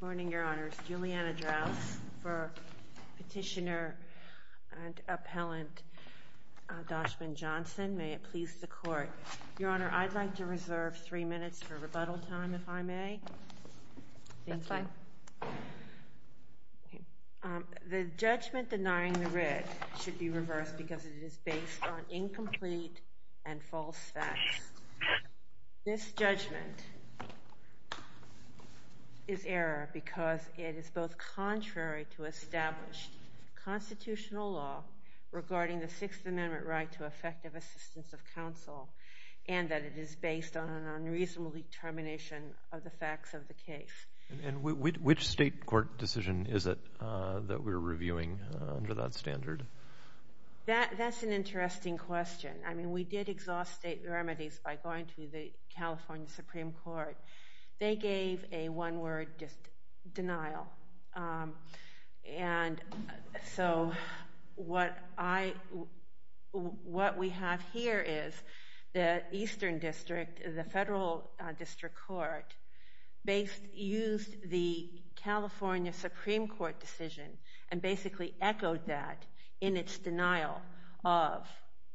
Good morning, Your Honor. It's Juliana Drouse for Petitioner and Appellant Doshman-Johnson. May it please the Court. Your Honor, I'd like to reserve three minutes for rebuttal time, if I may. Thank you. That's fine. The judgment denying the writ should be reversed because it is based on incomplete and false facts. This judgment is error because it is both contrary to established constitutional law regarding the Sixth Amendment right to effective assistance of counsel and that it is based on an unreasonable determination of the facts of the case. And which state court decision is it that we're reviewing under that standard? That's an interesting question. I mean, we did exhaust state remedies by going to the California Supreme Court. They gave a one-word denial. And so what we have here is the Eastern District, the Federal District Court, used the California Supreme Court decision and basically echoed that in its denial of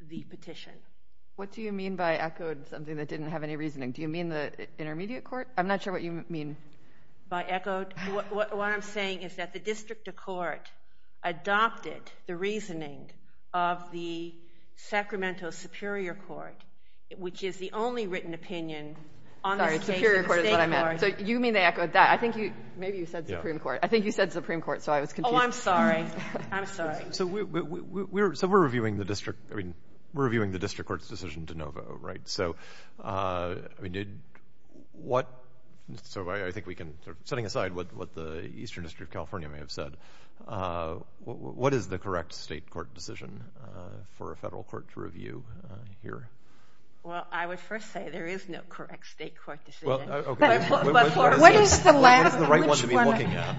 the petition. What do you mean by echoed something that didn't have any reasoning? Do you mean the Intermediate Court? I'm not sure what you mean. By echoed, what I'm saying is that the District Court adopted the reasoning of the Sacramento Superior Court, which is the only written opinion on this case in the state court. Sorry, Superior Court is what I meant. So you mean they echoed that. I think you, too, said Supreme Court. I think you said Supreme Court, so I was confused. Oh, I'm sorry. I'm sorry. So we're reviewing the District Court's decision de novo, right? So I think we can, setting aside what the Eastern District of California may have said, what is the correct state court decision for a federal court to review here? Well, I would first say there is no correct state court decision. What is the right one to be looking at?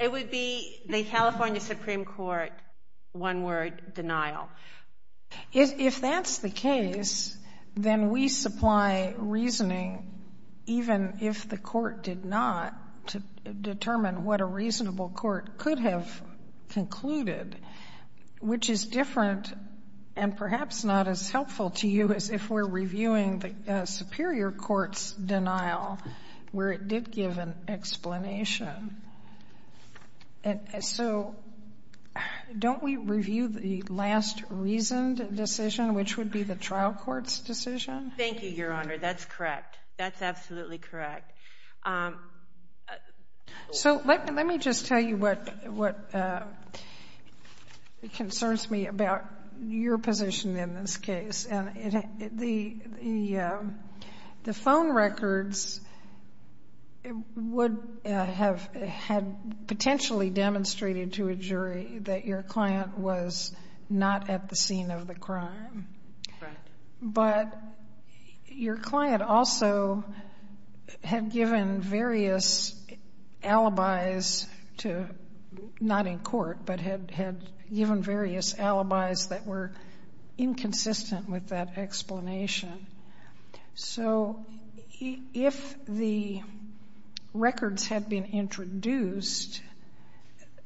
It would be the California Supreme Court, one word, denial. If that's the case, then we supply reasoning, even if the court did not determine what a reasonable court could have concluded, which is different and perhaps not as helpful to you as if we're reviewing the Superior Court's denial, where it did give an explanation. So don't we review the last reasoned decision, which would be the trial court's decision? Thank you, Your Honor. That's correct. That's concerns me about your position in this case. The phone records would have had potentially demonstrated to a jury that your client was not at the scene of the crime. But your client also had given various alibis, not in court, but had given various alibis that were inconsistent with that explanation. So if the records had been introduced,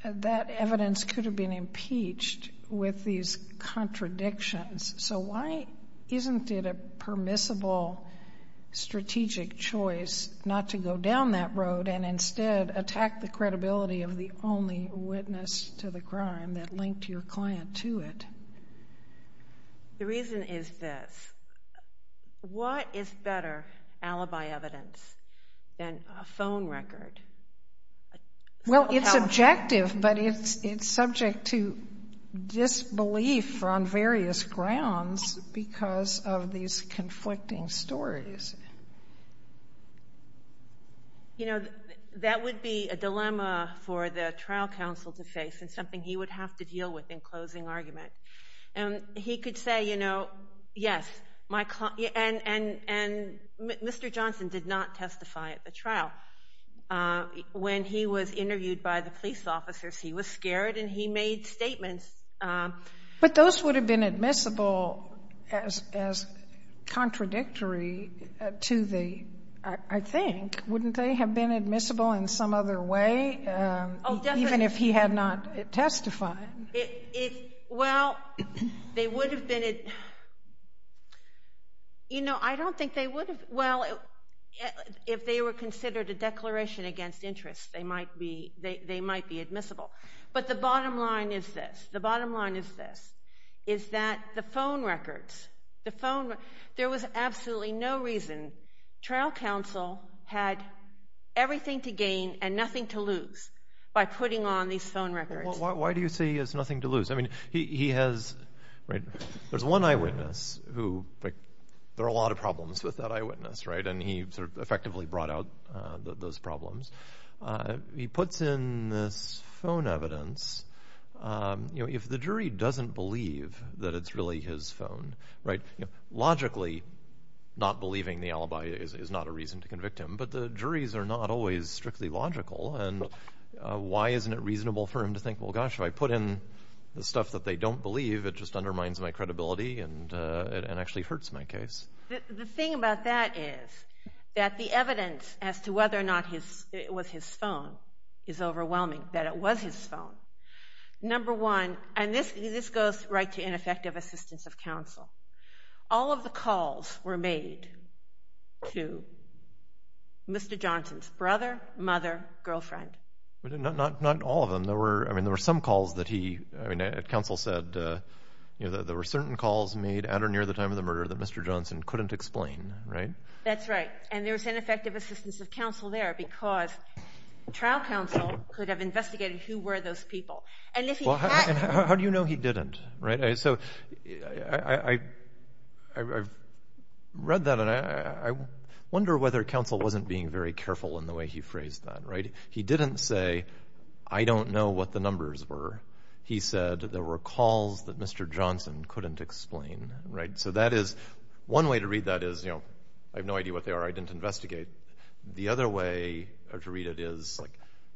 that evidence could have been impeached with these contradictions. So why isn't it a permissible strategic choice not to go down that road and instead attack the credibility of the only witness to the crime that linked your client to it? The reason is this. What is better alibi evidence than a phone record? Well, it's objective, but it's subject to disbelief on various grounds because of these conflicting stories. You know, that would be a dilemma for the trial counsel to face and something he would have to deal with in closing argument. And he could When he was interviewed by the police officers, he was scared and he made statements. But those would have been admissible as contradictory to the, I think, wouldn't they have been admissible in some other way, even if he had not testified? Well, they would have been, you know, I don't against interest. They might be admissible. But the bottom line is this. The bottom line is this, is that the phone records, the phone, there was absolutely no reason. Trial counsel had everything to gain and nothing to lose by putting on these phone records. Why do you say he has nothing to lose? I mean, he has, right, there's one eyewitness who there are a lot of problems with that eyewitness, right? And he sort of effectively brought out those problems. He puts in this phone evidence. You know, if the jury doesn't believe that it's really his phone, right? Logically, not believing the alibi is not a reason to convict him. But the juries are not always strictly logical. And why isn't it reasonable for him to think, well, gosh, if I put in the stuff that they don't believe, it just hurts my case. The thing about that is that the evidence as to whether or not it was his phone is overwhelming, that it was his phone. Number one, and this goes right to ineffective assistance of counsel. All of the calls were made to Mr. Johnson's brother, mother, girlfriend. Not all of them. There were, I mean, there were some calls that he, I mean, counsel said that there were certain calls made at or near the time of the murder that Mr. Johnson couldn't explain, right? That's right. And there was ineffective assistance of counsel there because trial counsel could have investigated who were those people. And if he hadn't... How do you know he didn't, right? So I read that and I wonder whether counsel wasn't being very careful in the way he phrased that, right? He didn't say, I don't know what the numbers were. He said there were calls that Mr. Johnson couldn't explain, right? So that is one way to read that is, you know, I have no idea what they are. I didn't investigate. The other way to read it is like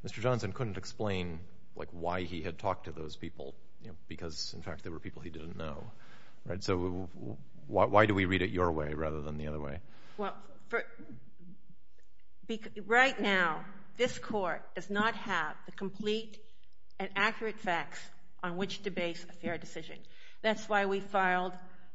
Mr. Johnson couldn't explain like why he had talked to those people because in fact there were people he didn't know, right? So why do we read it your way rather than the other way? Well, right now this court does not have the complete and accurate facts on which to base a fair decision. That's why we filed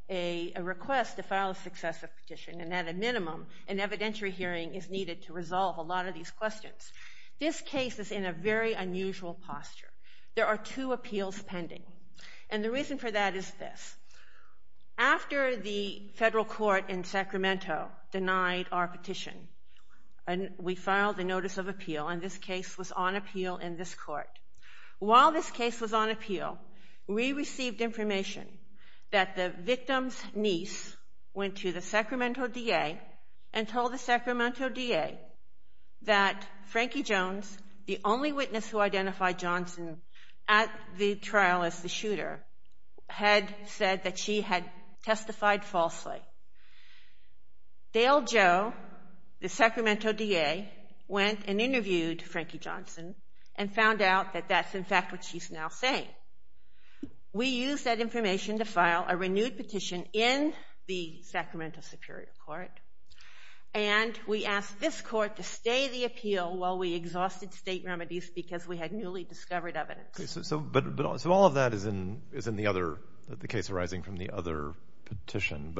a request to file a successive petition and at a minimum an evidentiary hearing is needed to resolve a lot of these questions. This case is in a very unusual posture. There are two appeals pending and the reason for that is this. After the federal court in Sacramento denied our petition, we filed a notice of appeal and this case was on appeal in this court. While this case was on appeal, we received information that the victim's niece went to the Sacramento DA and told the Sacramento DA that Frankie Jones, the only witness who identified Johnson at the trial as the shooter, had said that she had testified falsely. Dale Joe, the Sacramento DA, went and interviewed Frankie Johnson and found out that that's in fact what she's now saying. We used that information to file a renewed petition in the Sacramento Superior Court and we asked this court to stay the appeal while we exhausted state remedies because we had newly discovered evidence. All of that is in the case arising from the other petition.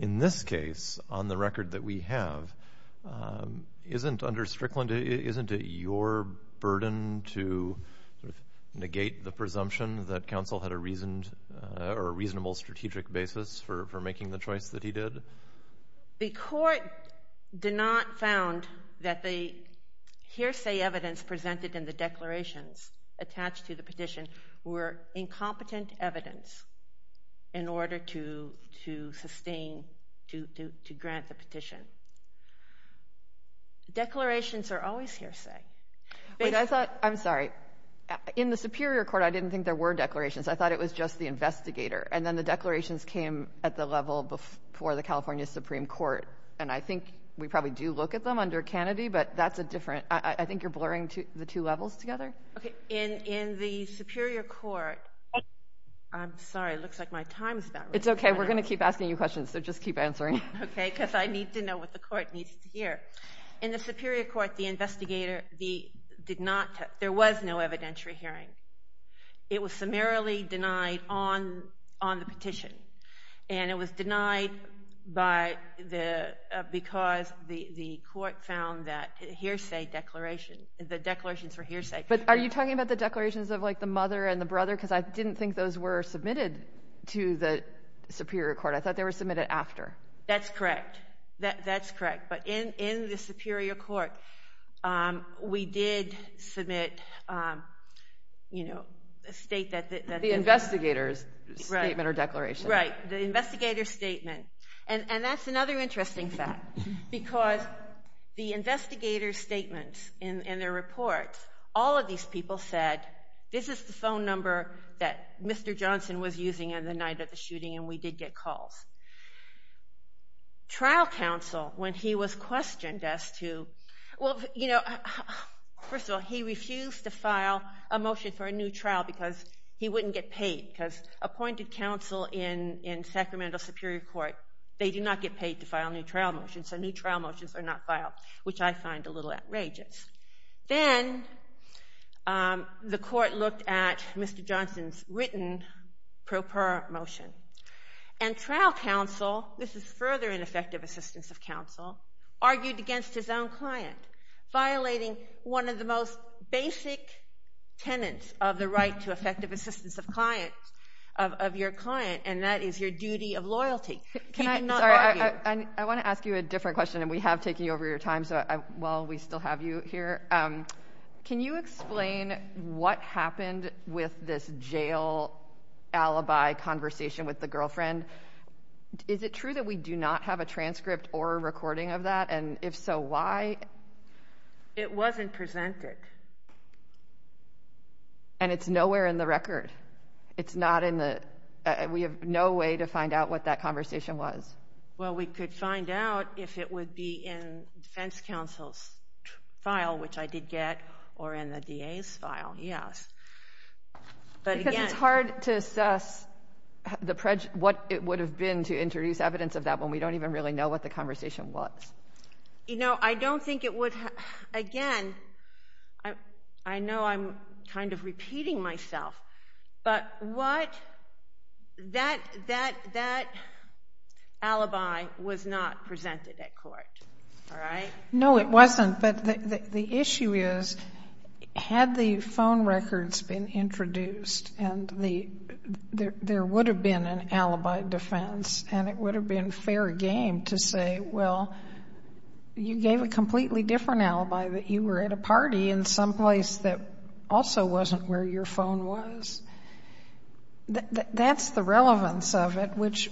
In this case, on the record that we have, under Strickland, isn't it your burden to negate the presumption that counsel had a reasonable strategic basis for making the choice that he did? The court did not found that the hearsay evidence presented in the declarations attached to the petition were incompetent evidence in order to sustain, to grant the petition. Declarations are always hearsay. I'm sorry. In the Superior Court, I didn't think there were declarations. I thought it was just the investigator. And then the declarations came at the level before the California Supreme Court. And I think we probably do look at them under Kennedy, but that's a different, I think you're blurring the two levels together? In the Superior Court, I'm sorry, it looks like my time is about to run out. It's okay, we're going to keep asking you questions, so just keep answering. Okay, because I need to know what the court needs to hear. In the Superior Court, the investigator did not, there was no evidentiary hearing. It was summarily denied on the petition. And it was denied because the court found that hearsay declaration, the declarations were hearsay. But are you talking about the declarations of like the mother and the brother? Because I didn't think those were submitted to the Superior Court. I thought they were submitted after. That's correct. That's correct. But in the Superior Court, we did submit a state that the... The investigator's statement or declaration. Right, the investigator's statement. And that's another interesting fact, because the investigator's statements in their report, all of these people said, this is the phone number that Mr. Johnson was using on the night of the shooting, and we did get calls. Trial counsel, when he was questioned as to, well, you know, first of all, he refused to file a motion for a new trial because he wouldn't get paid. Because appointed counsel in Sacramento Superior Court, they do not get paid to file a new trial motion, so new trial motions are not filed, which I find a little outrageous. Then the court looked at Mr. Johnson's written pro per motion. And trial counsel, this is further ineffective assistance of counsel, argued against his own client, violating one of the most basic tenets of the right to effective assistance of clients, of your client, and that is your duty of loyalty. Can I... You cannot argue. Sorry, I want to ask you a different question, and we have taken you over your time, so while we still have you here, can you explain what happened with this jail alibi conversation with the girlfriend? Is it true that we do not have a transcript or a recording of that? And if so, why? It wasn't presented. And it's nowhere in the record? It's not in the... We have no way to find out what that conversation was? Well, we could find out if it would be in defense counsel's file, which I did get, or in the DA's file, yes. But again... Because it's hard to assess what it would have been to introduce evidence of that when we don't even really know what the conversation was. You know, I don't think it would... Again, I know I'm kind of repeating myself, but what... That alibi was not presented at court, all right? No, it wasn't. But the issue is, had the phone records been introduced, and there would have been an alibi defense, and it would have been fair game to say, well, you gave a completely different alibi that you were at a party in some place that also wasn't where your phone was. That's the relevance of it, which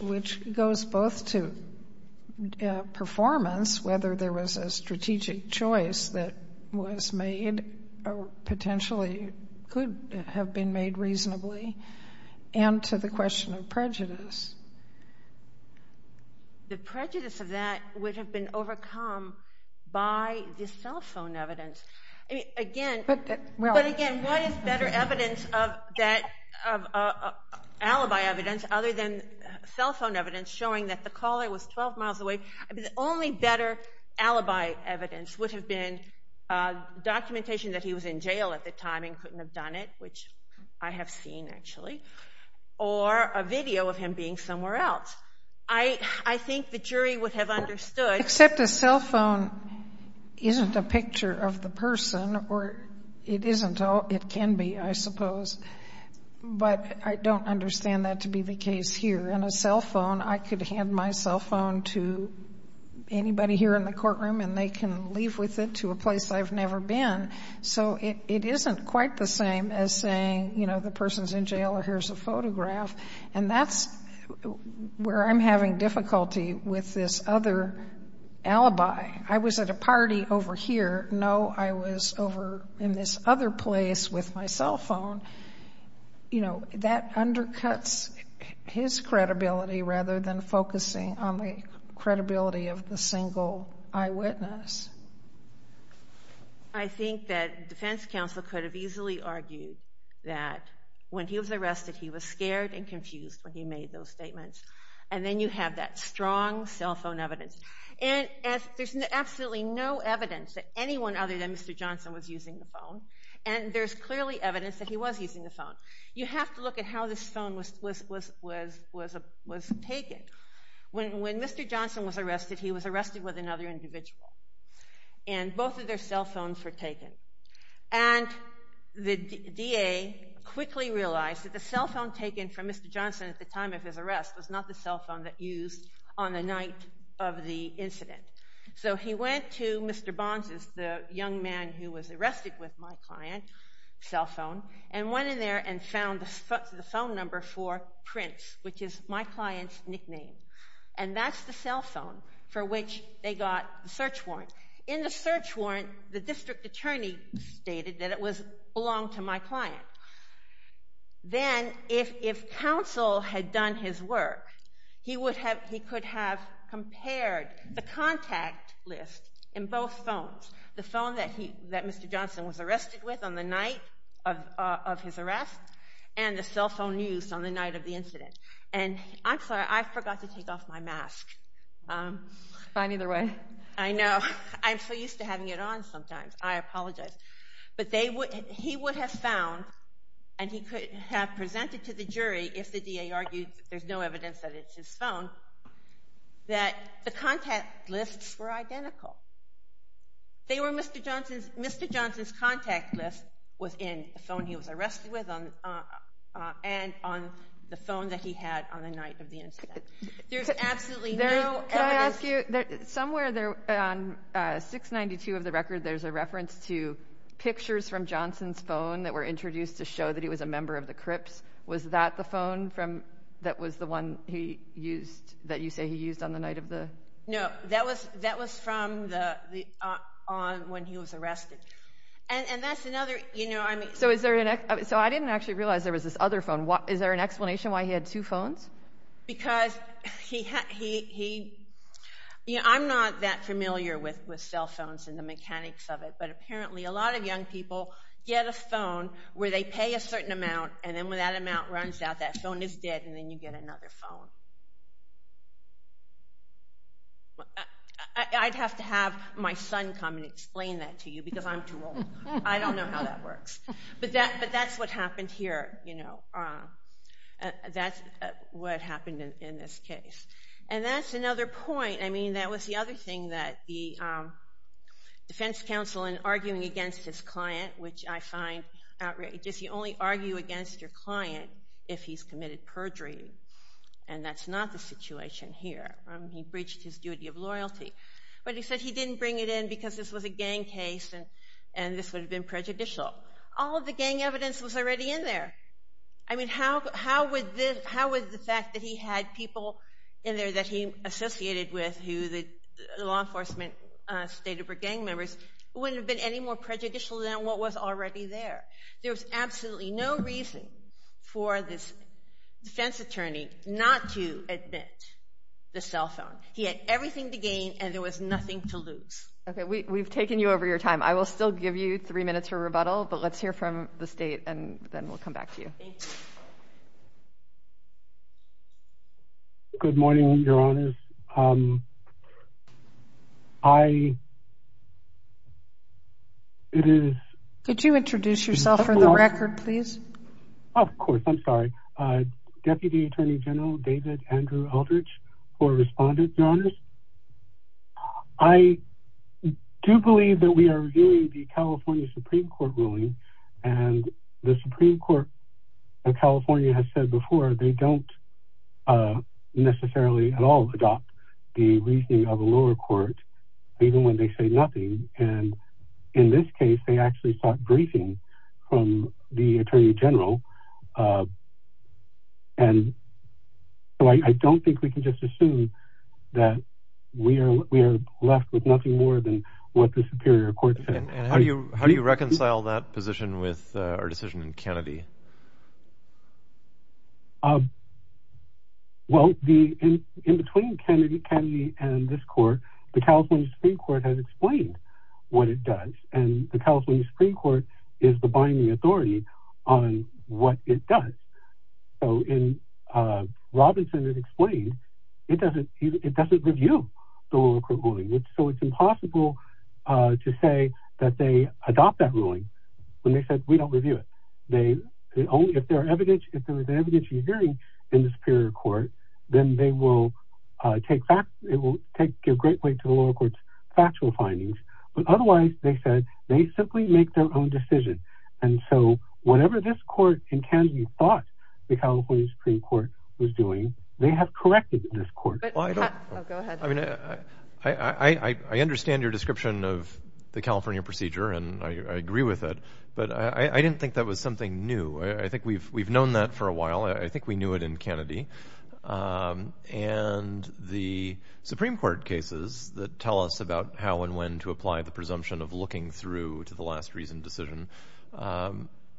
goes both to performance, whether there was a strategic choice that was made or potentially could have been made reasonably, and to the question of prejudice. The prejudice of that would have been overcome by the cell phone evidence. Again... But... The evidence of that... Alibi evidence other than cell phone evidence showing that the caller was 12 miles away. The only better alibi evidence would have been documentation that he was in jail at the time and couldn't have done it, which I have seen, actually, or a video of him being somewhere else. I think the jury would have understood... Except a cell phone isn't a picture of the person, or it can be, I suppose. But I don't understand that to be the case here. In a cell phone, I could hand my cell phone to anybody here in the courtroom, and they can leave with it to a place I've never been. So it isn't quite the same as saying, you know, the person's in jail, or here's a photograph. And that's where I'm having difficulty with this other alibi. I was at a party over here. No, I was over in this other place with my cell phone. You know, that undercuts his credibility rather than focusing on the credibility of the single eyewitness. I think that defense counsel could have easily argued that when he was arrested, he was very confused when he made those statements. And then you have that strong cell phone evidence. And there's absolutely no evidence that anyone other than Mr. Johnson was using the phone. And there's clearly evidence that he was using the phone. You have to look at how this phone was taken. When Mr. Johnson was arrested, he was arrested with another individual. And both of their cell phones were taken. And the DA quickly realized that the cell phone that Mr. Johnson, at the time of his arrest, was not the cell phone that he used on the night of the incident. So he went to Mr. Bonses, the young man who was arrested with my client's cell phone, and went in there and found the phone number for Prince, which is my client's nickname. And that's the cell phone for which they got the search warrant. In the search warrant, the district attorney stated that it belonged to my client. Then, if counsel had done his work, he could have compared the contact list in both phones. The phone that Mr. Johnson was arrested with on the night of his arrest, and the cell phone used on the night of the incident. And I'm sorry, I forgot to take off my mask. Fine, either way. I know. I'm so used to having it on sometimes. I apologize. But he would have found, and he could have presented to the jury, if the DA argued there's no evidence that it's his phone, that the contact lists were identical. Mr. Johnson's contact list was in the phone he was arrested with, and on the phone that he had on the night of the incident. There's absolutely no evidence. Can I ask you, somewhere on 692 of the record, there's a reference to pictures from Johnson's phone that were introduced to show that he was a member of the Crips. Was that the phone that you say he used on the night of the... No, that was from when he was arrested. And that's another... So I didn't actually realize there was this other phone. Is there an explanation why he had two phones? Because he... I'm not that familiar with cell phones and the mechanics of it, but apparently a lot of young people get a phone where they pay a certain amount, and then when that amount runs out, that phone is dead, and then you get another phone. I'd have to have my son come and explain that to you, because I'm too old. I don't know how that works. But that's what happened here. That's what happened in this case. And that's another point. I mean, that was the other thing that the defense counsel, in arguing against his client, which I find outrageous. You only argue against your client if he's committed perjury, and that's not the situation here. He breached his duty of loyalty. But he said he didn't bring it in because this was a gang case, and this would have been prejudicial. All of the gang evidence was already in there. I mean, how would the fact that he had people in there that he associated with, who the law enforcement stated were gang members, wouldn't have been any more prejudicial than what was already there? There was absolutely no reason for this defense attorney not to admit the cell phone. He had everything to gain, and there was nothing to lose. Okay, we've taken you over your time. I will still give you three minutes for rebuttal, but let's hear from the State, and then we'll come back to you. Thank you. Good morning, Your Honors. Could you introduce yourself for the record, please? Of course, I'm sorry. I do believe that we are reviewing the California Supreme Court ruling, and the Supreme Court of California has said before they don't necessarily at all adopt the reasoning of a lower court, even when they say nothing. And in this case, they actually sought briefing from the Attorney General. And so I don't think we can just assume that we are left with nothing more than what the Superior Court said. And how do you reconcile that position with our decision in Kennedy? Well, in between Kennedy and this court, the California Supreme Court has explained what it does, and the California Supreme Court is the binding authority on what it does. So in Robinson, it explained it doesn't review the lower court ruling. So it's impossible to say that they adopt that ruling when they said we don't review it. If there is evidence you're hearing in the Superior Court, then it will give great weight to the lower court's factual findings. But otherwise, they said they simply make their own decision. And so whatever this court in Kennedy thought the California Supreme Court was doing, they have corrected this court. I understand your description of the California procedure, and I agree with it. But I didn't think that was something new. I think we've known that for a while. I think we knew it in Kennedy. And the Supreme Court cases that tell us about how and when to apply the presumption of looking through to the last reasoned decision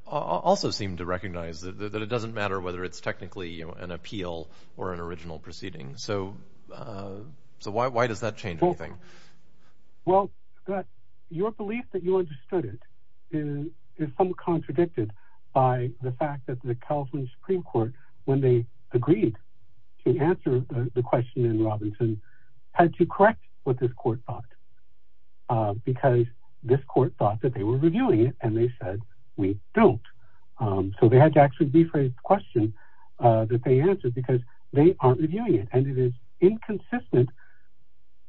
also seem to recognize that it doesn't matter whether it's technically an appeal or an original proceeding. So why does that change anything? Well, your belief that you understood it is somewhat contradicted by the fact that the California Supreme Court, when they agreed to answer the question in Robinson, had to correct what this court thought because this court thought that they were reviewing it, and they said we don't. So they had to actually rephrase the question that they answered because they aren't reviewing it. And it is inconsistent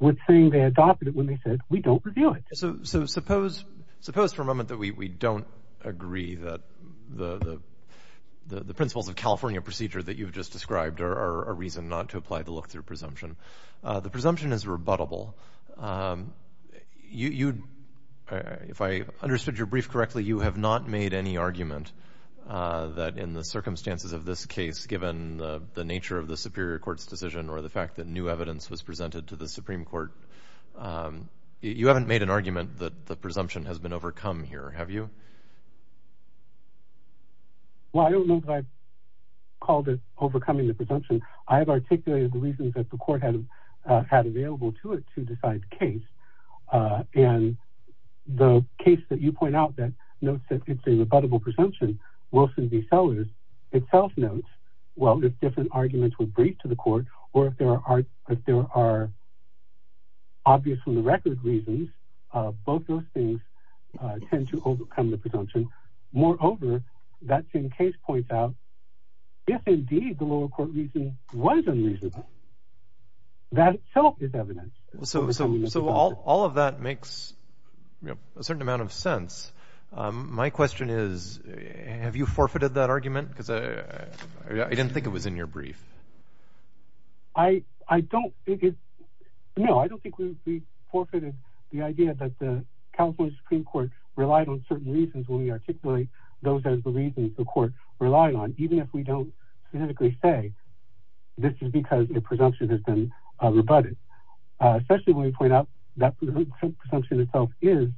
with saying they adopted it when they said we don't review it. So suppose for a moment that we don't agree that the principles of California procedure that you've just described are a reason not to apply the look-through presumption. The presumption is rebuttable. If I understood your brief correctly, you have not made any argument that in the circumstances of this case, given the nature of the Superior Court's decision or the fact that new evidence was presented to the Supreme Court, you haven't made an argument that the presumption has been overcome here, have you? Well, I don't know that I've called it overcoming the presumption. I have articulated the reasons that the court had available to it to decide the case. And the case that you point out that notes that it's a rebuttable presumption, Wilson v. Sellers, itself notes, well, if different arguments were briefed to the court or if there are obvious from the record reasons, both those things tend to overcome the presumption. Moreover, that same case points out if indeed the lower court reason was unreasonable, that itself is evidence. So all of that makes a certain amount of sense. My question is, have you forfeited that argument? I didn't think it was in your brief. I don't think it's... No, I don't think we've forfeited the idea that the California Supreme Court relied on certain reasons when we articulate those as the reasons the court relied on, even if we don't specifically say this is because the presumption has been rebutted. Especially when we point out that the presumption itself is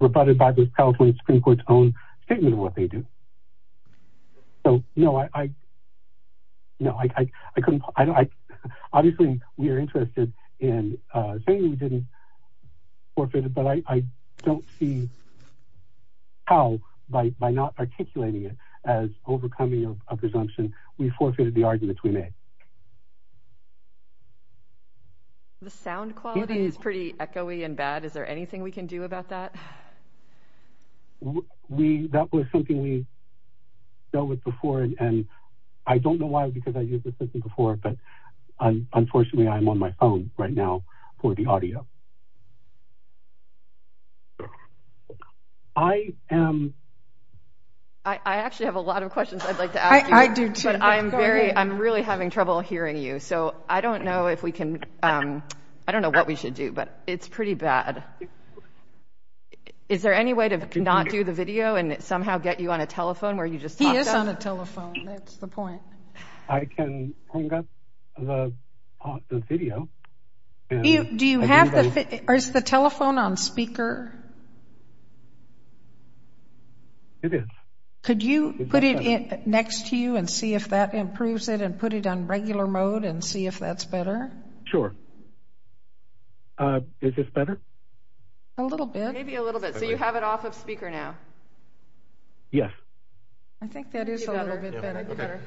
rebutted by the California Supreme Court's own statement of what they do. So, no, I... No, I couldn't... Obviously, we are interested in saying we didn't forfeit it, but I don't see how, by not articulating it as overcoming a presumption, we forfeited the arguments we made. The sound quality is pretty echoey and bad. Is there anything we can do about that? That was something we dealt with before, and I don't know why, because I used this system before, but unfortunately, I'm on my phone right now for the audio. I am... I actually have a lot of questions I'd like to ask you. I do, too. I'm really having trouble hearing you, so I don't know if we can... I don't know what we should do, but it's pretty bad. Is there any way to not do the video and somehow get you on a telephone where you just talked up? He is on a telephone. That's the point. I can hang up the video. Do you have the... Is the telephone on speaker? It is. Could you put it next to you and see if that improves it and put it on regular mode and see if that's better? Sure. Is this better? A little bit. Maybe a little bit, so you have it off of speaker now. Yes. I think that is a little bit better.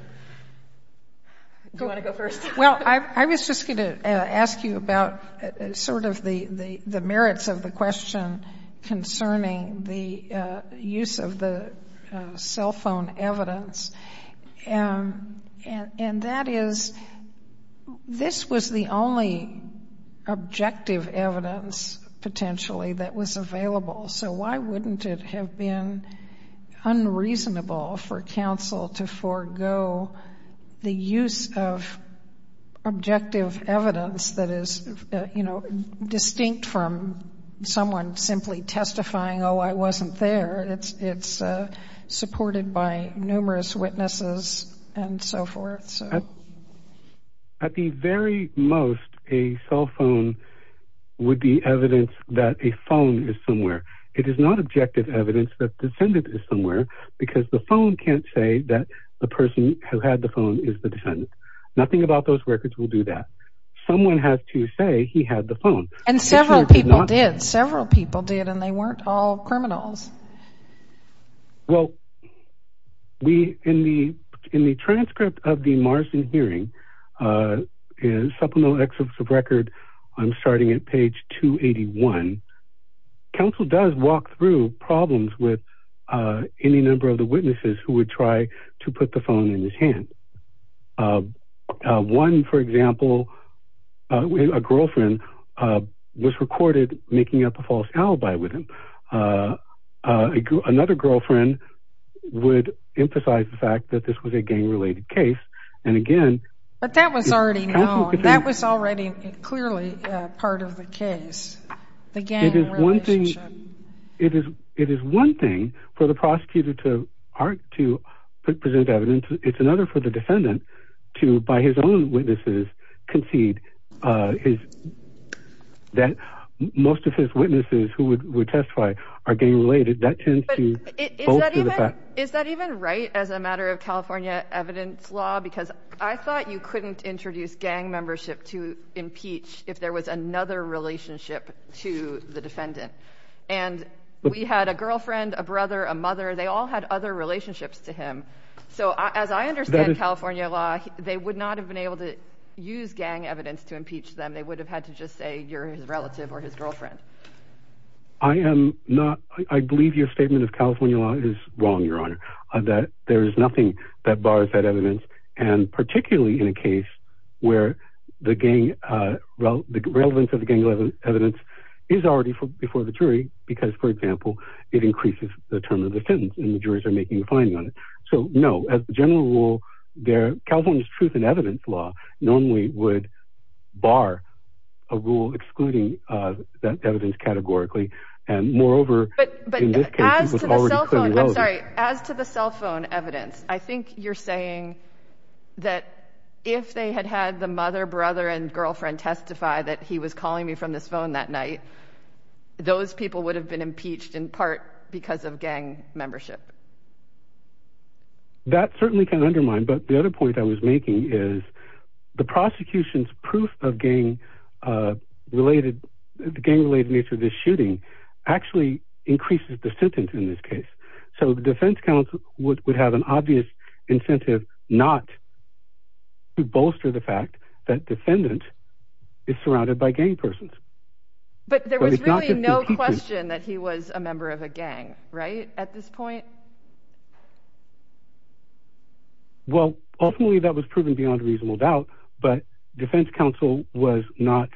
Do you want to go first? Well, I was just going to ask you about sort of the merits of the question concerning the use of the cell phone evidence, and that is this was the only objective evidence, potentially, that was available, so why wouldn't it have been unreasonable for counsel to forego the use of objective evidence that is distinct from someone simply testifying, oh, I wasn't there. It's supported by numerous witnesses and so forth. At the very most, a cell phone would be evidence that a phone is somewhere. It is not objective evidence that the defendant is somewhere because the phone can't say that the person who had the phone is the defendant. Nothing about those records will do that. Someone has to say he had the phone. And several people did. Several people did, and they weren't all criminals. Well, in the transcript of the Marsden hearing, supplemental excerpts of record, I'm starting at page 281, counsel does walk through problems with any number of the witnesses who would try to put the phone in his hand. One, for example, a girlfriend, was recorded making up a false alibi with him. Another girlfriend would emphasize the fact that this was a gang-related case, and again... But that was already known. That was already clearly part of the case, the gang relationship. It is one thing for the prosecutor to present evidence. It's another for the defendant to, by his own witnesses, concede that most of his witnesses who would testify are gang-related. Is that even right as a matter of California evidence law? Because I thought you couldn't introduce gang membership to impeach if there was another relationship to the defendant. And we had a girlfriend, a brother, a mother. They all had other relationships to him. So as I understand California law, they would not have been able to use gang evidence to impeach them. They would have had to just say you're his relative or his girlfriend. I am not... I believe your statement of California law is wrong, Your Honor, that there is nothing that bars that evidence, and particularly in a case where the gang... the relevance of the gang evidence is already before the jury because, for example, it increases the term of the sentence and the juries are making a finding on it. So no, as a general rule, California's truth in evidence law normally would bar a rule excluding that evidence categorically. And moreover, in this case, it was already clearly relevant. But as to the cell phone evidence, I think you're saying that if they had had the mother, brother, and girlfriend testify that he was calling me from this phone that night, those people would have been impeached in part because of gang membership. That certainly can undermine, but the other point I was making is the prosecution's proof of gang-related nature of this shooting actually increases the sentence in this case. So the defense counsel would have an obvious incentive not to bolster the fact that defendant is surrounded by gang persons. But there was really no question that he was a member of a gang, right, at this point? Well, ultimately that was proven beyond reasonable doubt, but defense counsel was not...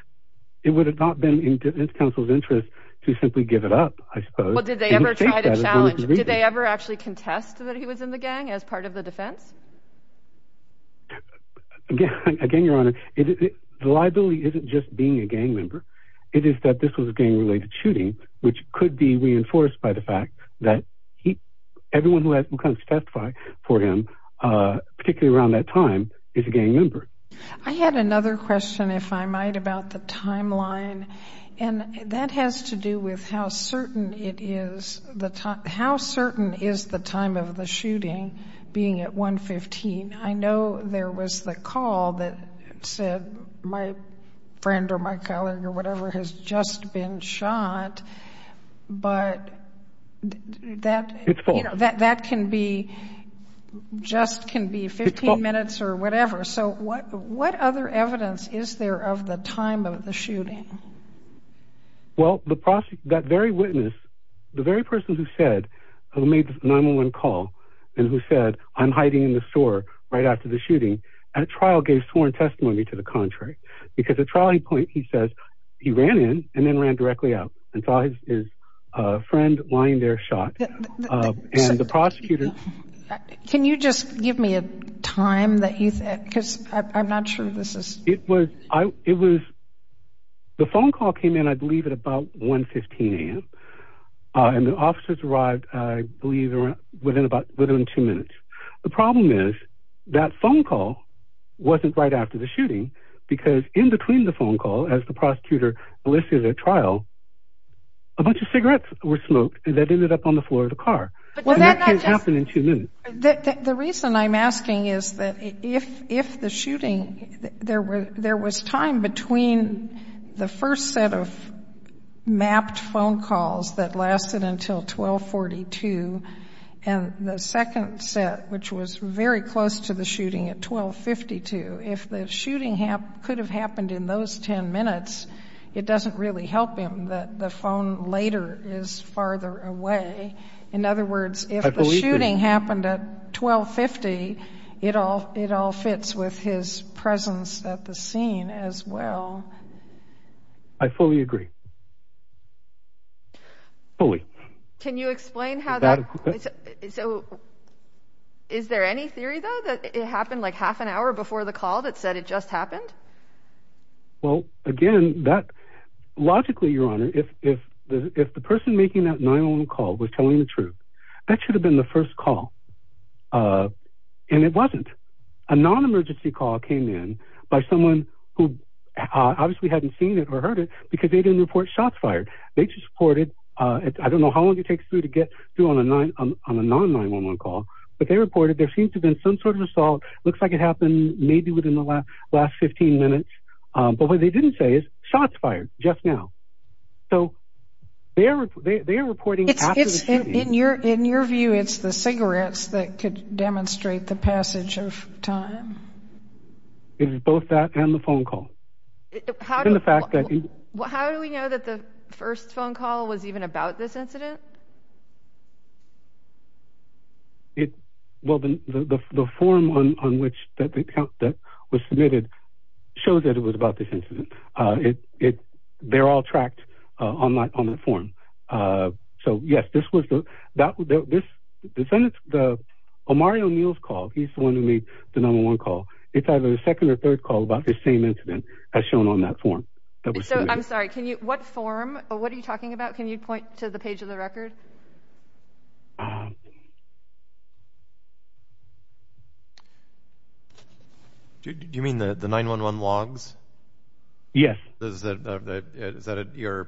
It would have not been in defense counsel's interest to simply give it up, I suppose. Well, did they ever try to challenge... Did they ever actually contest that he was in the gang as part of the defense? Again, Your Honor, the liability isn't just being a gang member. It is that this was a gang-related shooting, which could be reinforced by the fact that everyone who comes to testify for him, particularly around that time, is a gang member. I had another question, if I might, about the timeline, and that has to do with how certain it is... How certain is the time of the shooting being at 115? I know there was the call that said, my friend or my colleague or whatever has just been shot, but that can be just 15 minutes or whatever. So what other evidence is there of the time of the shooting? Well, that very witness, the very person who made the 911 call and who said, I'm hiding in the store right after the shooting, at trial gave sworn testimony to the contrary. Because at trial he says he ran in and then ran directly out and saw his friend lying there shot. And the prosecutor... Can you just give me a time that you said? Because I'm not sure this is... It was... The phone call came in, I believe, at about 115 a.m. And the officers arrived, I believe, within two minutes. The problem is that phone call wasn't right after the shooting because in between the phone call, as the prosecutor listed at trial, a bunch of cigarettes were smoked that ended up on the floor of the car. And that can't happen in two minutes. The reason I'm asking is that if the shooting... There was time between the first set of mapped phone calls that lasted until 1242 and the second set, which was very close to the shooting at 1252. If the shooting could have happened in those 10 minutes, it doesn't really help him that the phone later is farther away. In other words, if the shooting happened at 1250, it all fits with his presence at the scene as well. I fully agree. Fully. Can you explain how that... So, is there any theory, though, that it happened like half an hour before the call that said it just happened? Well, again, that... Logically, Your Honor, if the person making that 911 call was telling the truth, that should have been the first call. And it wasn't. A non-emergency call came in by someone who obviously hadn't seen it or heard it because they didn't report shots fired. They just reported... I don't know how long it takes to get through on a non-911 call, but they reported there seemed to have been some sort of assault. Looks like it happened maybe within the last 15 minutes. But what they didn't say is shots fired just now. So they are reporting after the shooting. In your view, it's the cigarettes that could demonstrate the passage of time? It is both that and the phone call. How do we know that the first phone call was even about this incident? Well, the form on which that was submitted shows that it was about this incident. They're all tracked on the form. So, yes, this was the... Mario Neal's call, he's the one who made the number one call. It's either the second or third call about this same incident as shown on that form. I'm sorry. What form? What are you talking about? Can you point to the page of the record? Do you mean the 911 logs? Yes. Is that at year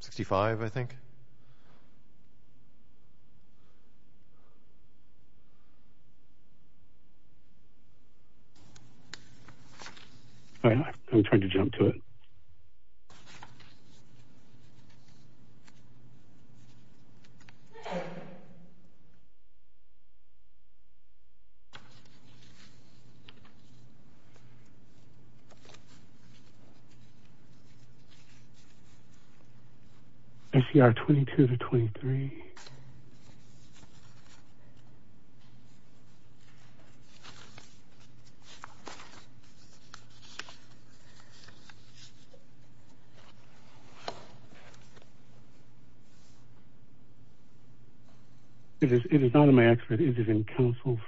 65, I think? I'm trying to jump to it. SCR 22 to 23. It is not in my excerpt. It is in counsel's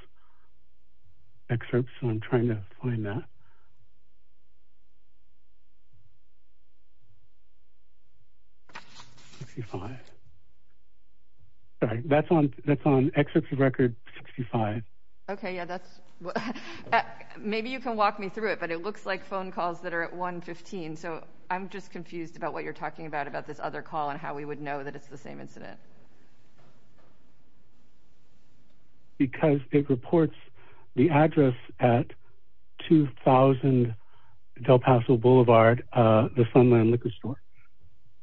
excerpt, so I'm trying to find that. 65. Sorry, that's on excerpt of record 65. Okay, yeah, that's... Maybe you can walk me through it, but it looks like phone calls that are at 115, so I'm just confused about what you're talking about about this other call and how we would know that it's the same incident. Because it reports the address at 2000 Del Paso Boulevard, the Sunland Liquor Store.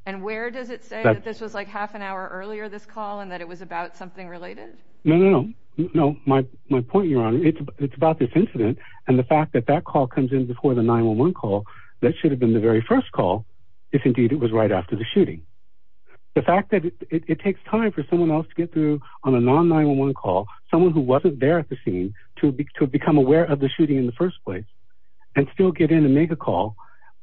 And where does it say that this was like half an hour earlier, this call, and that it was about something related? No, no, no. My point, Your Honor, it's about this incident, and the fact that that call comes in before the 911 call, that should have been the very first call, if indeed it was right after the shooting. The fact that it takes time for someone else to get through on a non-911 call, someone who wasn't there at the scene, to become aware of the shooting in the first place and still get in and make a call.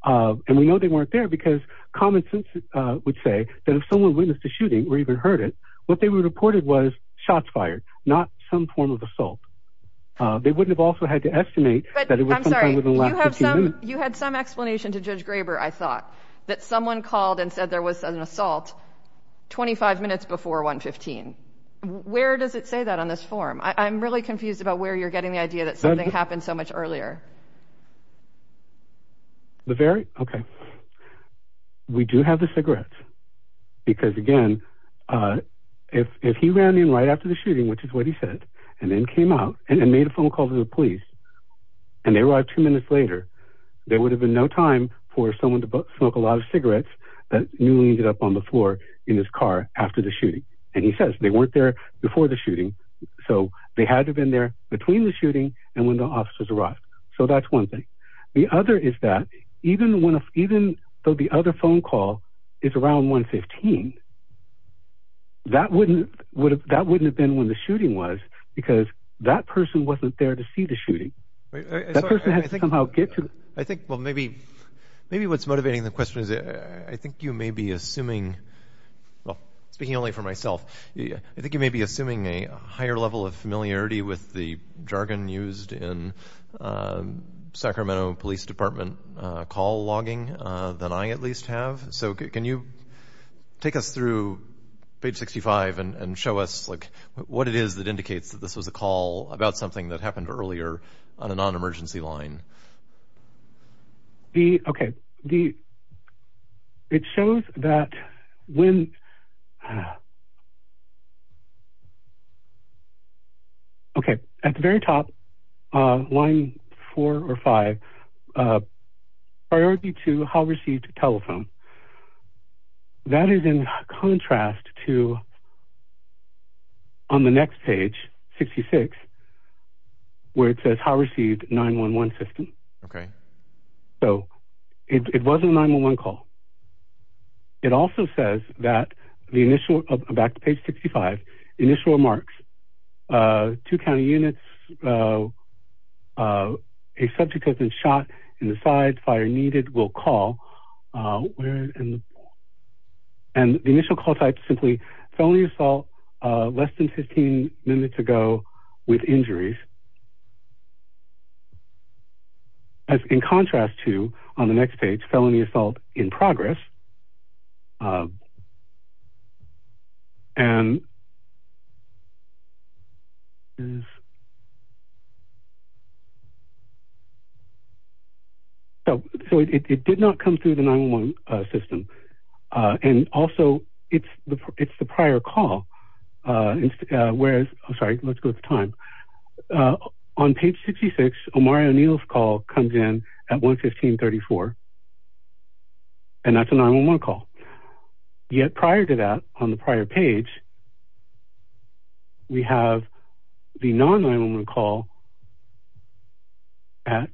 And we know they weren't there because common sense would say that if someone witnessed a shooting or even heard it, what they reported was shots fired, not some form of assault. They wouldn't have also had to estimate that it was sometime within the last 15 minutes. I'm sorry, you had some explanation to Judge Graber, I thought, that someone called and said there was an assault 25 minutes before 115. Where does it say that on this form? I'm really confused about where you're getting the idea that something happened so much earlier. We do have the cigarettes because, again, if he ran in right after the shooting, which is what he said, and then came out and made a phone call to the police, and they arrived two minutes later, there would have been no time for someone to smoke a lot of cigarettes that newly ended up on the floor in his car after the shooting. And he says they weren't there before the shooting, so they had to have been there between the shooting and when the officers arrived. So that's one thing. The other is that even though the other phone call is around 115, that wouldn't have been when the shooting was because that person wasn't there to see the shooting. That person had to somehow get to it. Maybe what's motivating the question is I think you may be assuming, speaking only for myself, I think you may be assuming a higher level of familiarity with the jargon used in Sacramento Police Department call logging than I at least have. So can you take us through page 65 and show us what it is that indicates that this was a call about something that happened earlier on a non-emergency line? Okay. It shows that when... Okay. At the very top, line four or five, priority to how received telephone. That is in contrast to on the next page, 66, where it says how received 9-1-1 system. Okay. So it was a 9-1-1 call. It also says that the initial, back to page 65, initial remarks, two county units, a subject has been shot in the side, fire needed, will call. And the initial call type is simply felony assault, less than 15 minutes ago with injuries. As in contrast to on the next page, felony assault in progress. And... Is... So it did not come through the 9-1-1 system. And also it's the prior call, whereas... I'm sorry, let's go with the time. On page 66, Omari O'Neill's call comes in at 1-15-34, and that's a 9-1-1 call. Yet prior to that, on the prior page, we have the non-9-1-1 call at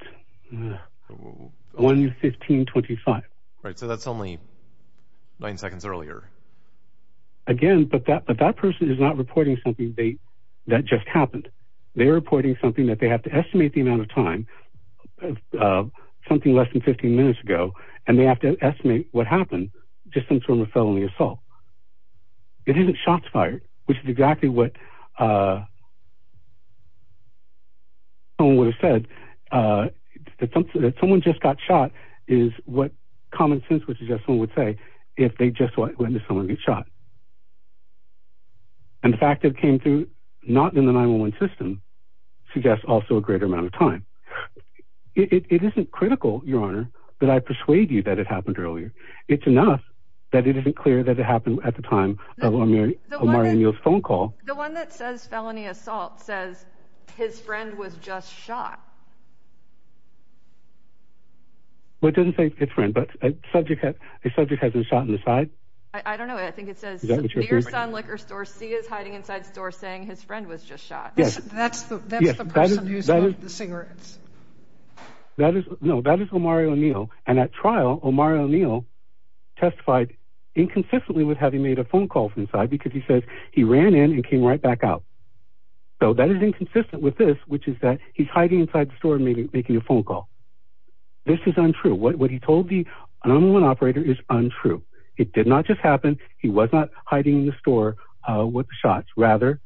1-15-25. Right, so that's only nine seconds earlier. Again, but that person is not reporting something that just happened. They're reporting something that they have to estimate the amount of time, something less than 15 minutes ago, and they have to estimate what happened, just in terms of felony assault. It isn't shots fired, which is exactly what... ...someone would have said. That someone just got shot is what common sense would suggest someone would say if they just witnessed someone get shot. And the fact it came through not in the 9-1-1 system suggests also a greater amount of time. It isn't critical, Your Honour, that I persuade you that it happened earlier. It's enough that it isn't clear that it happened at the time of Omari O'Neill's phone call. The one that says felony assault says his friend was just shot. Well, it doesn't say his friend, but a subject hasn't been shot in the side? I don't know. I think it says... Is that what you're referring to? ...near Sun Liquor Store C is hiding inside store saying his friend was just shot. That's the person who smoked the cigarettes. No, that is Omari O'Neill, and at trial Omari O'Neill testified inconsistently with having made a phone call from inside because he says he ran in and came right back out. So that is inconsistent with this, which is that he's hiding inside the store making a phone call. This is untrue. What he told the 9-1-1 operator is untrue. It did not just happen. He was not hiding in the store with the shots. Rather,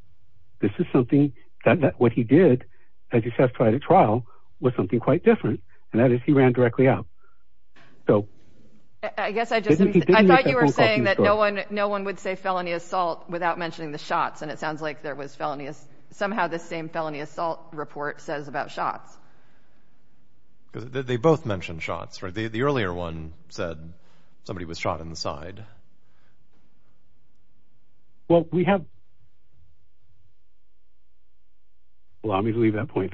this is something that what he did as he testified at trial was something quite different, and that is he ran directly out. So... I guess I just... I thought you were saying that no one would say felony assault without mentioning the shots, and it sounds like there was felonious... Somehow this same felony assault report says about shots. They both mentioned shots, right? The earlier one said somebody was shot in the side. Well, we have... Allow me to leave that point.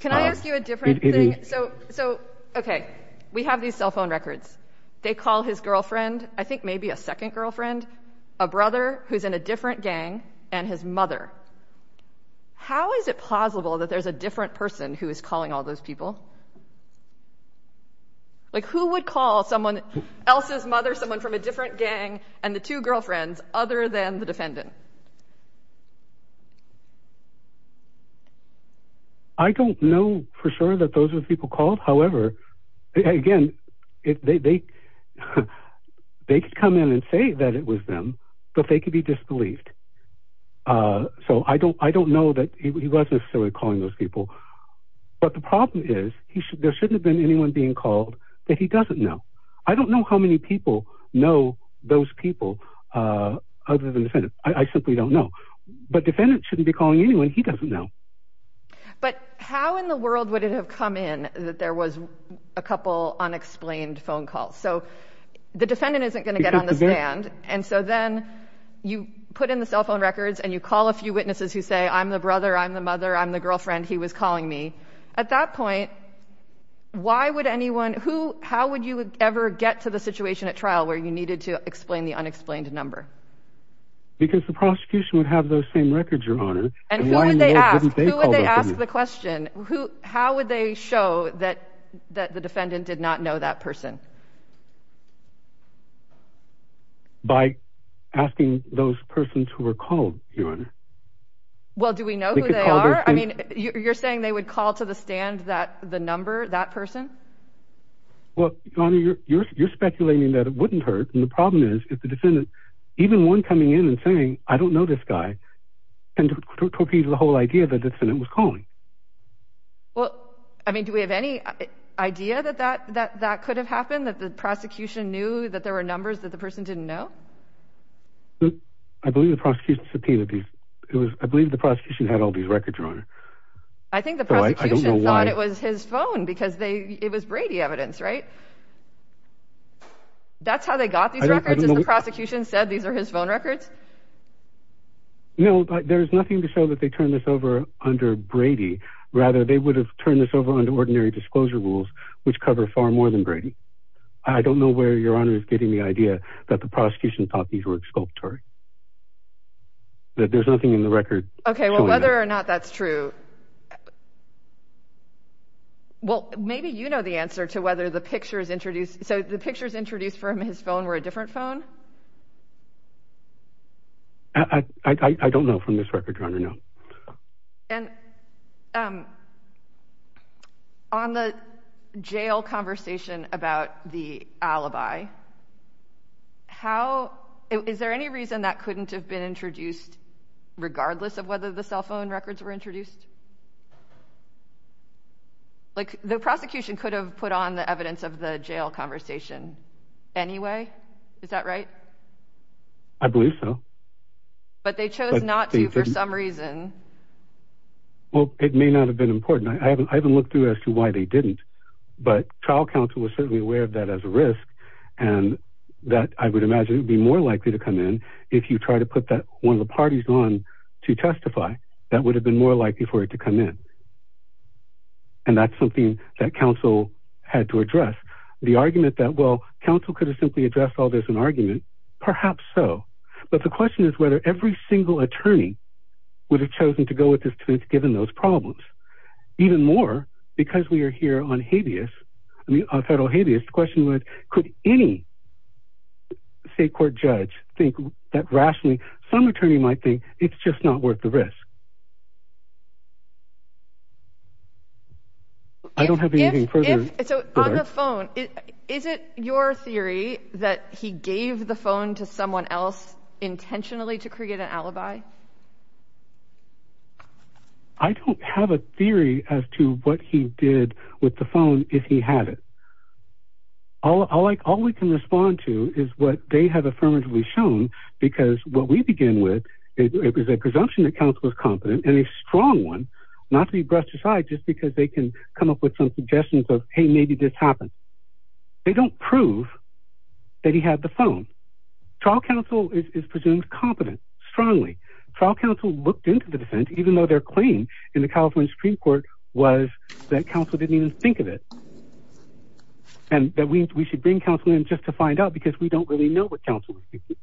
Can I ask you a different thing? So... Okay. We have these cell phone records. They call his girlfriend, I think maybe a second girlfriend, a brother who's in a different gang, and his mother. How is it plausible that there's a different person who is calling all those people? Like, who would call someone else's mother, someone from a different gang, and the two girlfriends other than the defendant? I don't know for sure that those are the people called. However, again, they... They could come in and say that it was them, but they could be disbelieved. So I don't know that he was necessarily calling those people. But the problem is, there shouldn't have been anyone being called that he doesn't know. I don't know how many people know those people other than the defendant. I simply don't know. But defendant shouldn't be calling anyone he doesn't know. But how in the world would it have come in that there was a couple unexplained phone calls? So the defendant isn't going to get on the stand, and so then you put in the cell phone records and you call a few witnesses who say, I'm the brother, I'm the mother, I'm the girlfriend, he was calling me. At that point, why would anyone... How would you ever get to the situation at trial where you needed to explain the unexplained number? Because the prosecution would have those same records, Your Honor. And who would they ask? Who would they ask the question? How would they show that the defendant did not know that person? By asking those persons who were called, Your Honor. Well, do we know who they are? I mean, you're saying they would call to the stand the number, that person? Well, Your Honor, you're speculating that it wouldn't hurt. And the problem is, if the defendant, even one coming in and saying, I don't know this guy, can torpedo the whole idea that the defendant was calling. Well, I mean, do we have any idea that that could have happened? That the prosecution knew that there were numbers that the person didn't know? I believe the prosecution had all these records, Your Honor. I think the prosecution thought it was his phone because it was Brady evidence, right? That's how they got these records, is the prosecution said these are his phone records? No, but there is nothing to show that they turned this over under Brady. Rather, they would have turned this over under ordinary disclosure rules, which cover far more than Brady. I don't know where Your Honor is getting the idea that the prosecution thought these were exculpatory. There's nothing in the record. Okay, well, whether or not that's true. Well, maybe you know the answer to whether the pictures introduced, so the pictures introduced from his phone were a different phone? I don't know from this record, Your Honor, no. And on the jail conversation about the alibi, is there any reason that couldn't have been introduced regardless of whether the cell phone records were introduced? Like the prosecution could have put on the evidence of the jail conversation anyway, is that right? I believe so. But they chose not to for some reason. Well, it may not have been important. I haven't looked through as to why they didn't, but trial counsel was certainly aware of that as a risk, and that I would imagine would be more likely to come in if you try to put that one of the parties on to testify, that would have been more likely for it to come in. And that's something that counsel had to address. The argument that, well, counsel could have simply addressed all this in argument, perhaps so. But the question is whether every single attorney would have chosen to go with this to its given those problems. Even more, because we are here on habeas, I mean on federal habeas, the question was, could any state court judge think that rationally, some attorney might think it's just not worth the risk. I don't have anything further. So on the phone, is it your theory that he gave the phone to someone else intentionally to create an alibi? I don't have a theory as to what he did with the phone, if he had it. All we can respond to is what they have affirmatively shown, because what we begin with, it was a presumption that counsel was competent and a strong one, not to be brushed aside, just because they can come up with some suggestions of, hey, maybe this happened. They don't prove that he had the phone. Trial counsel is presumed competent, strongly. Trial counsel looked into the defense, even though their claim in the California Supreme Court was that counsel didn't even think of it. And that we should bring counsel in just to find out because we don't really know what counsel was thinking.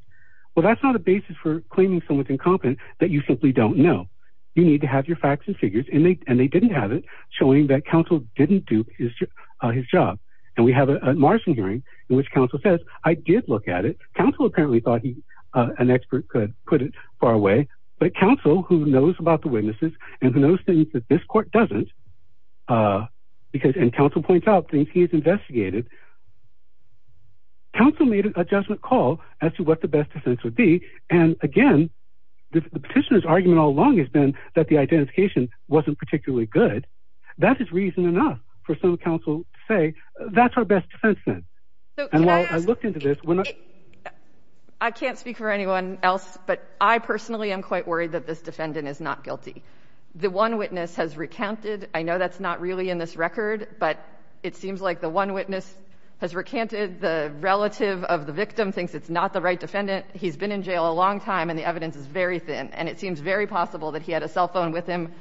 Well, that's not a basis for claiming someone's incompetent that you simply don't know. You need to have your facts and figures, and they didn't have it, showing that counsel didn't do his job. And we have a Marsden hearing in which counsel says, I did look at it. Counsel apparently thought an expert could put it far away, but counsel who knows about the witnesses and who knows things that this court doesn't, and counsel points out things he has investigated, counsel made a judgment call as to what the best defense would be. And again, the petitioner's argument all along has been that the identification wasn't particularly good. That is reason enough for some counsel to say, that's our best defense then. And while I looked into this- I can't speak for anyone else, but I personally am quite worried that this defendant is not guilty. The one witness has recounted, I know that's not really in this record, but it seems like the one witness has recanted the relative of the victim thinks it's not the right defendant. He's been in jail a long time and the evidence is very thin, and it seems very possible that he had a cell phone with him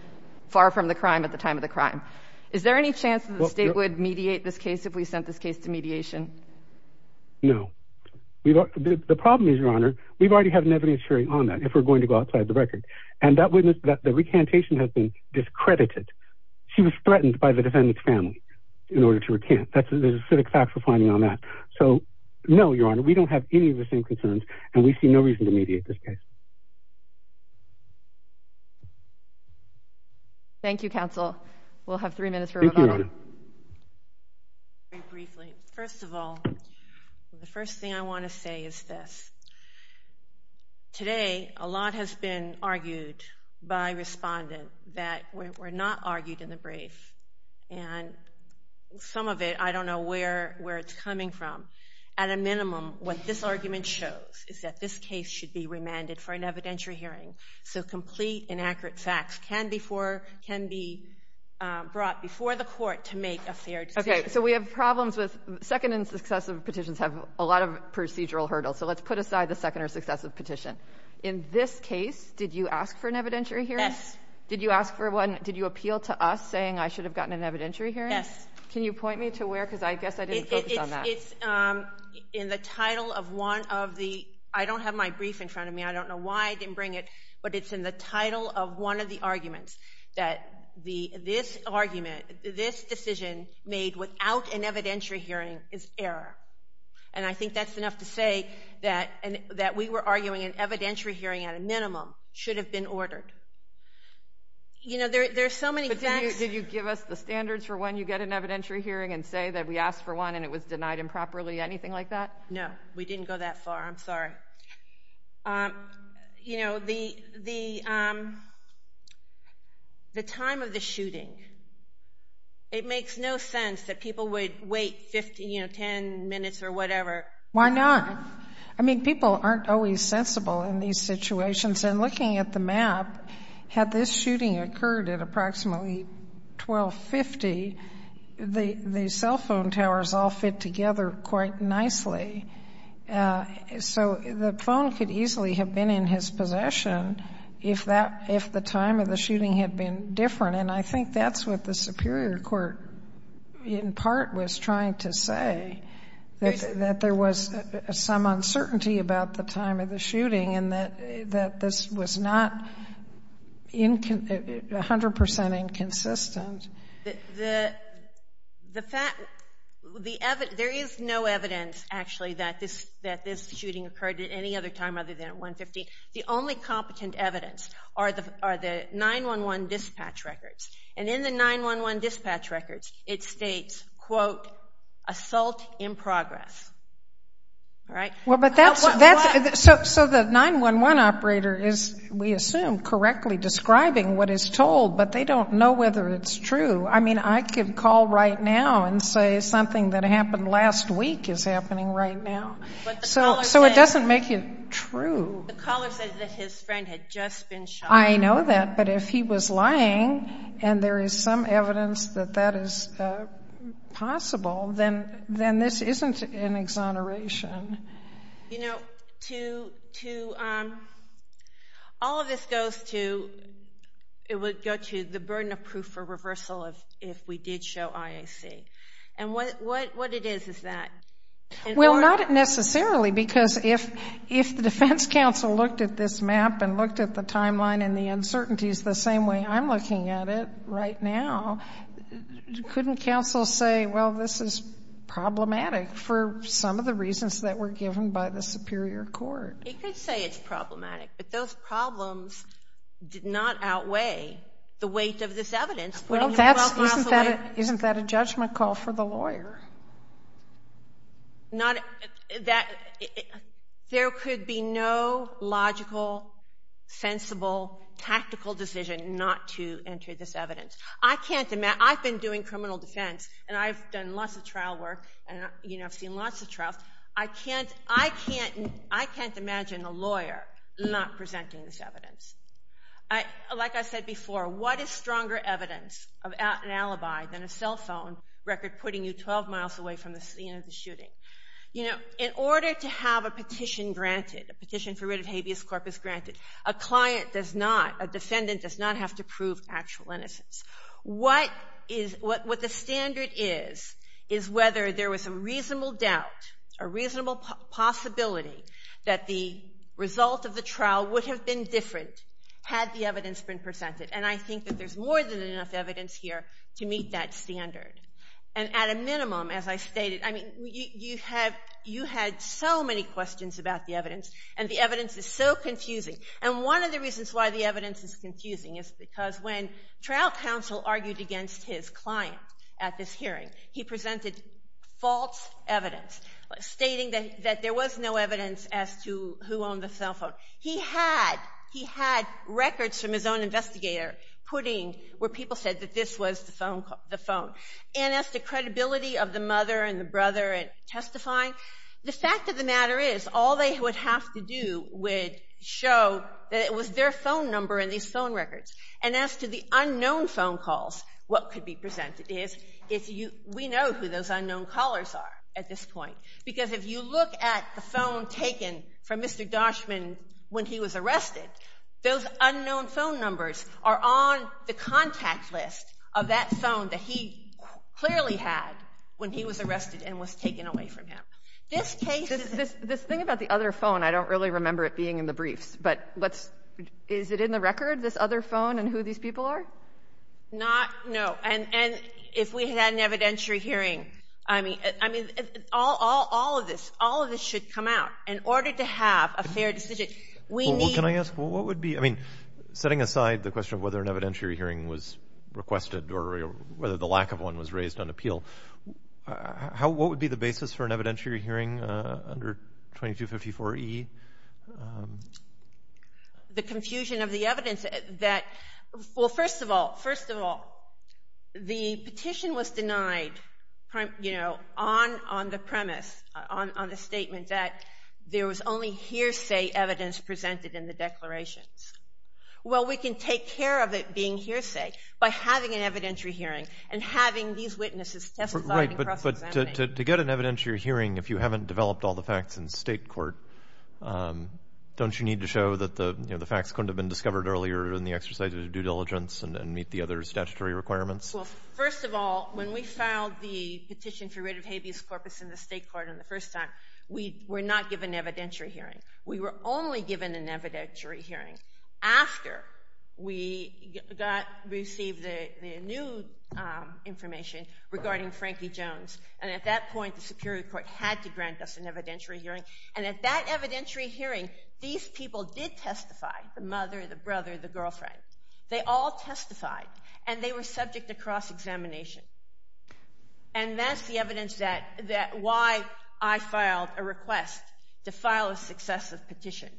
far from the crime at the time of the crime. Is there any chance that the state would mediate this case if we sent this case to mediation? No. The problem is, Your Honor, we've already had an evidence hearing on that if we're going to go outside the record. And that witness, the recantation has been discredited. She was threatened by the defendant's family in order to recant. That's a specific fact for finding on that. So, no, Your Honor, we don't have any of the same concerns and we see no reason to mediate this case. Thank you. Thank you, counsel. We'll have three minutes for rebuttal. Thank you, Your Honor. Very briefly. First of all, the first thing I want to say is this. Today, a lot has been argued by respondents that were not argued in the brief. And some of it, I don't know where it's coming from. At a minimum, what this argument shows is that this case should be remanded for an evidentiary hearing. So complete and accurate facts can be brought before the court to make a fair decision. Okay, so we have problems with, second and successive petitions have a lot of procedural hurdles. So let's put aside the second or successive petition. In this case, did you ask for an evidentiary hearing? Yes. Did you ask for one? Did you appeal to us saying I should have gotten an evidentiary hearing? Yes. Can you point me to where? Because I guess I didn't focus on that. It's in the title of one of the, I don't have my brief in front of me. I don't know why I didn't bring it. But it's in the title of one of the arguments that this argument, this decision made without an evidentiary hearing is error. And I think that's enough to say that we were arguing an evidentiary hearing at a minimum should have been ordered. You know, there's so many facts. But did you give us the standards for when you get an evidentiary hearing and say that we asked for one and it was denied improperly? Anything like that? No. We didn't go that far. I'm sorry. You know, the time of the shooting, it makes no sense that people would wait 10 minutes or whatever. Why not? I mean, people aren't always sensible in these situations. And looking at the map, had this shooting occurred at approximately 1250, the cell phone towers all fit together quite nicely. So the phone could easily have been in his possession if the time of the shooting had been different. And I think that's what the Superior Court, in part, was trying to say, that there was some uncertainty about the time of the shooting and that this was not 100% inconsistent. There is no evidence, actually, that this shooting occurred at any other time other than at 150. The only competent evidence are the 911 dispatch records. And in the 911 dispatch records, it states, quote, assault in progress. Right? So the 911 operator is, we assume, correctly describing what is told, but they don't know whether it's true. I mean, I could call right now and say something that happened last week is happening right now. So it doesn't make it true. The caller said that his friend had just been shot. I know that, but if he was lying and there is some evidence that that is possible, then this isn't an exoneration. You know, all of this goes to, it would go to the burden of proof for reversal if we did show IAC. And what it is is that... Well, not necessarily, because if the defense counsel looked at this map and looked at the timeline and the uncertainties the same way I'm looking at it right now, couldn't counsel say, well, this is problematic for some of the reasons that were given by the superior court? It could say it's problematic, but those problems did not outweigh the weight of this evidence. Well, isn't that a judgment call for the lawyer? Not... There could be no logical, sensible, tactical decision not to enter this evidence. I've been doing criminal defense, and I've done lots of trial work, and, you know, I've seen lots of trials. I can't imagine a lawyer not presenting this evidence. Like I said before, what is stronger evidence of an alibi than a cell phone record putting you 12 miles away from the scene of the shooting? You know, in order to have a petition granted, a petition for rid of habeas corpus granted, a client does not, a defendant does not have to prove actual innocence. What the standard is is whether there was a reasonable doubt, a reasonable possibility that the result of the trial would have been different had the evidence been presented. And I think that there's more than enough evidence here to meet that standard. And at a minimum, as I stated, I mean, you had so many questions about the evidence, and the evidence is so confusing. And one of the reasons why the evidence is confusing is because when trial counsel argued against his client at this hearing, he presented false evidence, stating that there was no evidence as to who owned the cell phone. He had records from his own investigator putting where people said that this was the phone. And as to credibility of the mother and the brother at testifying, the fact of the matter is all they would have to do would show that it was their phone number in these phone records. And as to the unknown phone calls, what could be presented is, we know who those unknown callers are at this point, because if you look at the phone taken from Mr. Doshman when he was arrested, those unknown phone numbers are on the contact list of that phone that he clearly had when he was arrested and was taken away from him. This thing about the other phone, I don't really remember it being in the briefs, but is it in the record, this other phone, and who these people are? Not, no. And if we had an evidentiary hearing, I mean, all of this, all of this should come out. In order to have a fair decision, we need... Well, can I ask, what would be... I mean, setting aside the question of whether an evidentiary hearing was requested or whether the lack of one was raised on appeal, what would be the basis for an evidentiary hearing under 2254E? The confusion of the evidence that... Well, first of all, first of all, the petition was denied on the premise, on the statement that there was only hearsay evidence presented in the declarations. Well, we can take care of it being hearsay by having an evidentiary hearing and having these witnesses testified and cross-examine. Right, but to get an evidentiary hearing if you haven't developed all the facts in state court, don't you need to show that the facts couldn't have been discovered earlier in the exercise of due diligence and meet the other statutory requirements? Well, first of all, when we filed the petition for writ of habeas corpus in the state court in the first time, we were not given an evidentiary hearing. We were only given an evidentiary hearing after we received the new information regarding Frankie Jones. And at that point, the Superior Court had to grant us an evidentiary hearing. And at that evidentiary hearing, these people did testify, the mother, the brother, the girlfriend. They all testified, and they were subject to cross-examination. And that's the evidence that... why I filed a request to file a successive petition.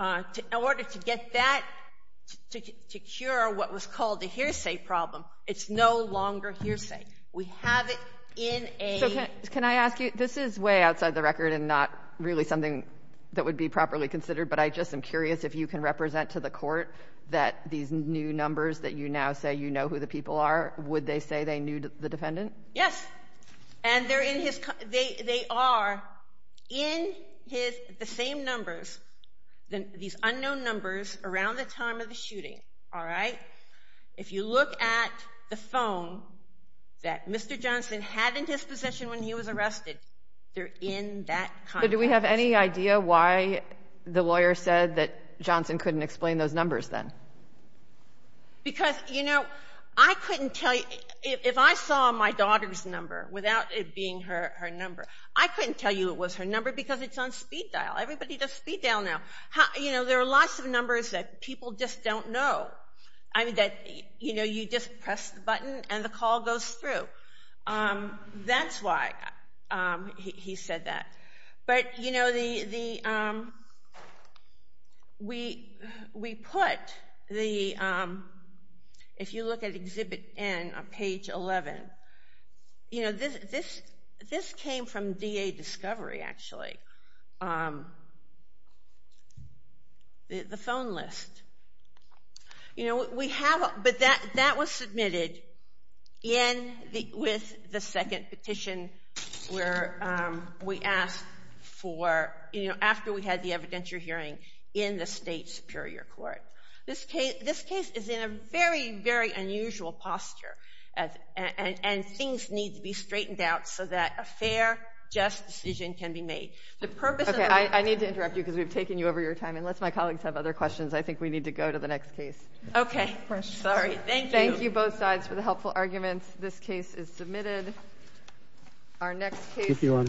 In order to get that... to cure what was called the hearsay problem, it's no longer hearsay. We have it in a... So can I ask you, this is way outside the record and not really something that would be properly considered, but I just am curious if you can represent to the court that these new numbers that you now say you know who the people are, would they say they knew the defendant? Yes. And they're in his... they are in the same numbers, these unknown numbers, around the time of the shooting, all right? If you look at the phone, that Mr. Johnson had in his possession when he was arrested, they're in that context. So do we have any idea why the lawyer said that Johnson couldn't explain those numbers then? Because, you know, I couldn't tell you... If I saw my daughter's number, without it being her number, I couldn't tell you it was her number because it's on speed dial. Everybody does speed dial now. You know, there are lots of numbers that people just don't know. I mean, that, you know, you just press the button and the call goes through. That's why he said that. But, you know, the... We put the... If you look at Exhibit N on page 11, you know, this came from D.A. Discovery, actually. The phone list. You know, we have... But that was submitted with the second petition where we asked for, you know, after we had the evidentiary hearing in the state superior court. This case is in a very, very unusual posture and things need to be straightened out so that a fair, just decision can be made. The purpose... Okay, I need to interrupt you because we've taken you over your time and let my colleagues have other questions. I think we need to go to the next case. Okay. Thank you. Thank you, both sides, for the helpful arguments. This case is submitted. Our next case...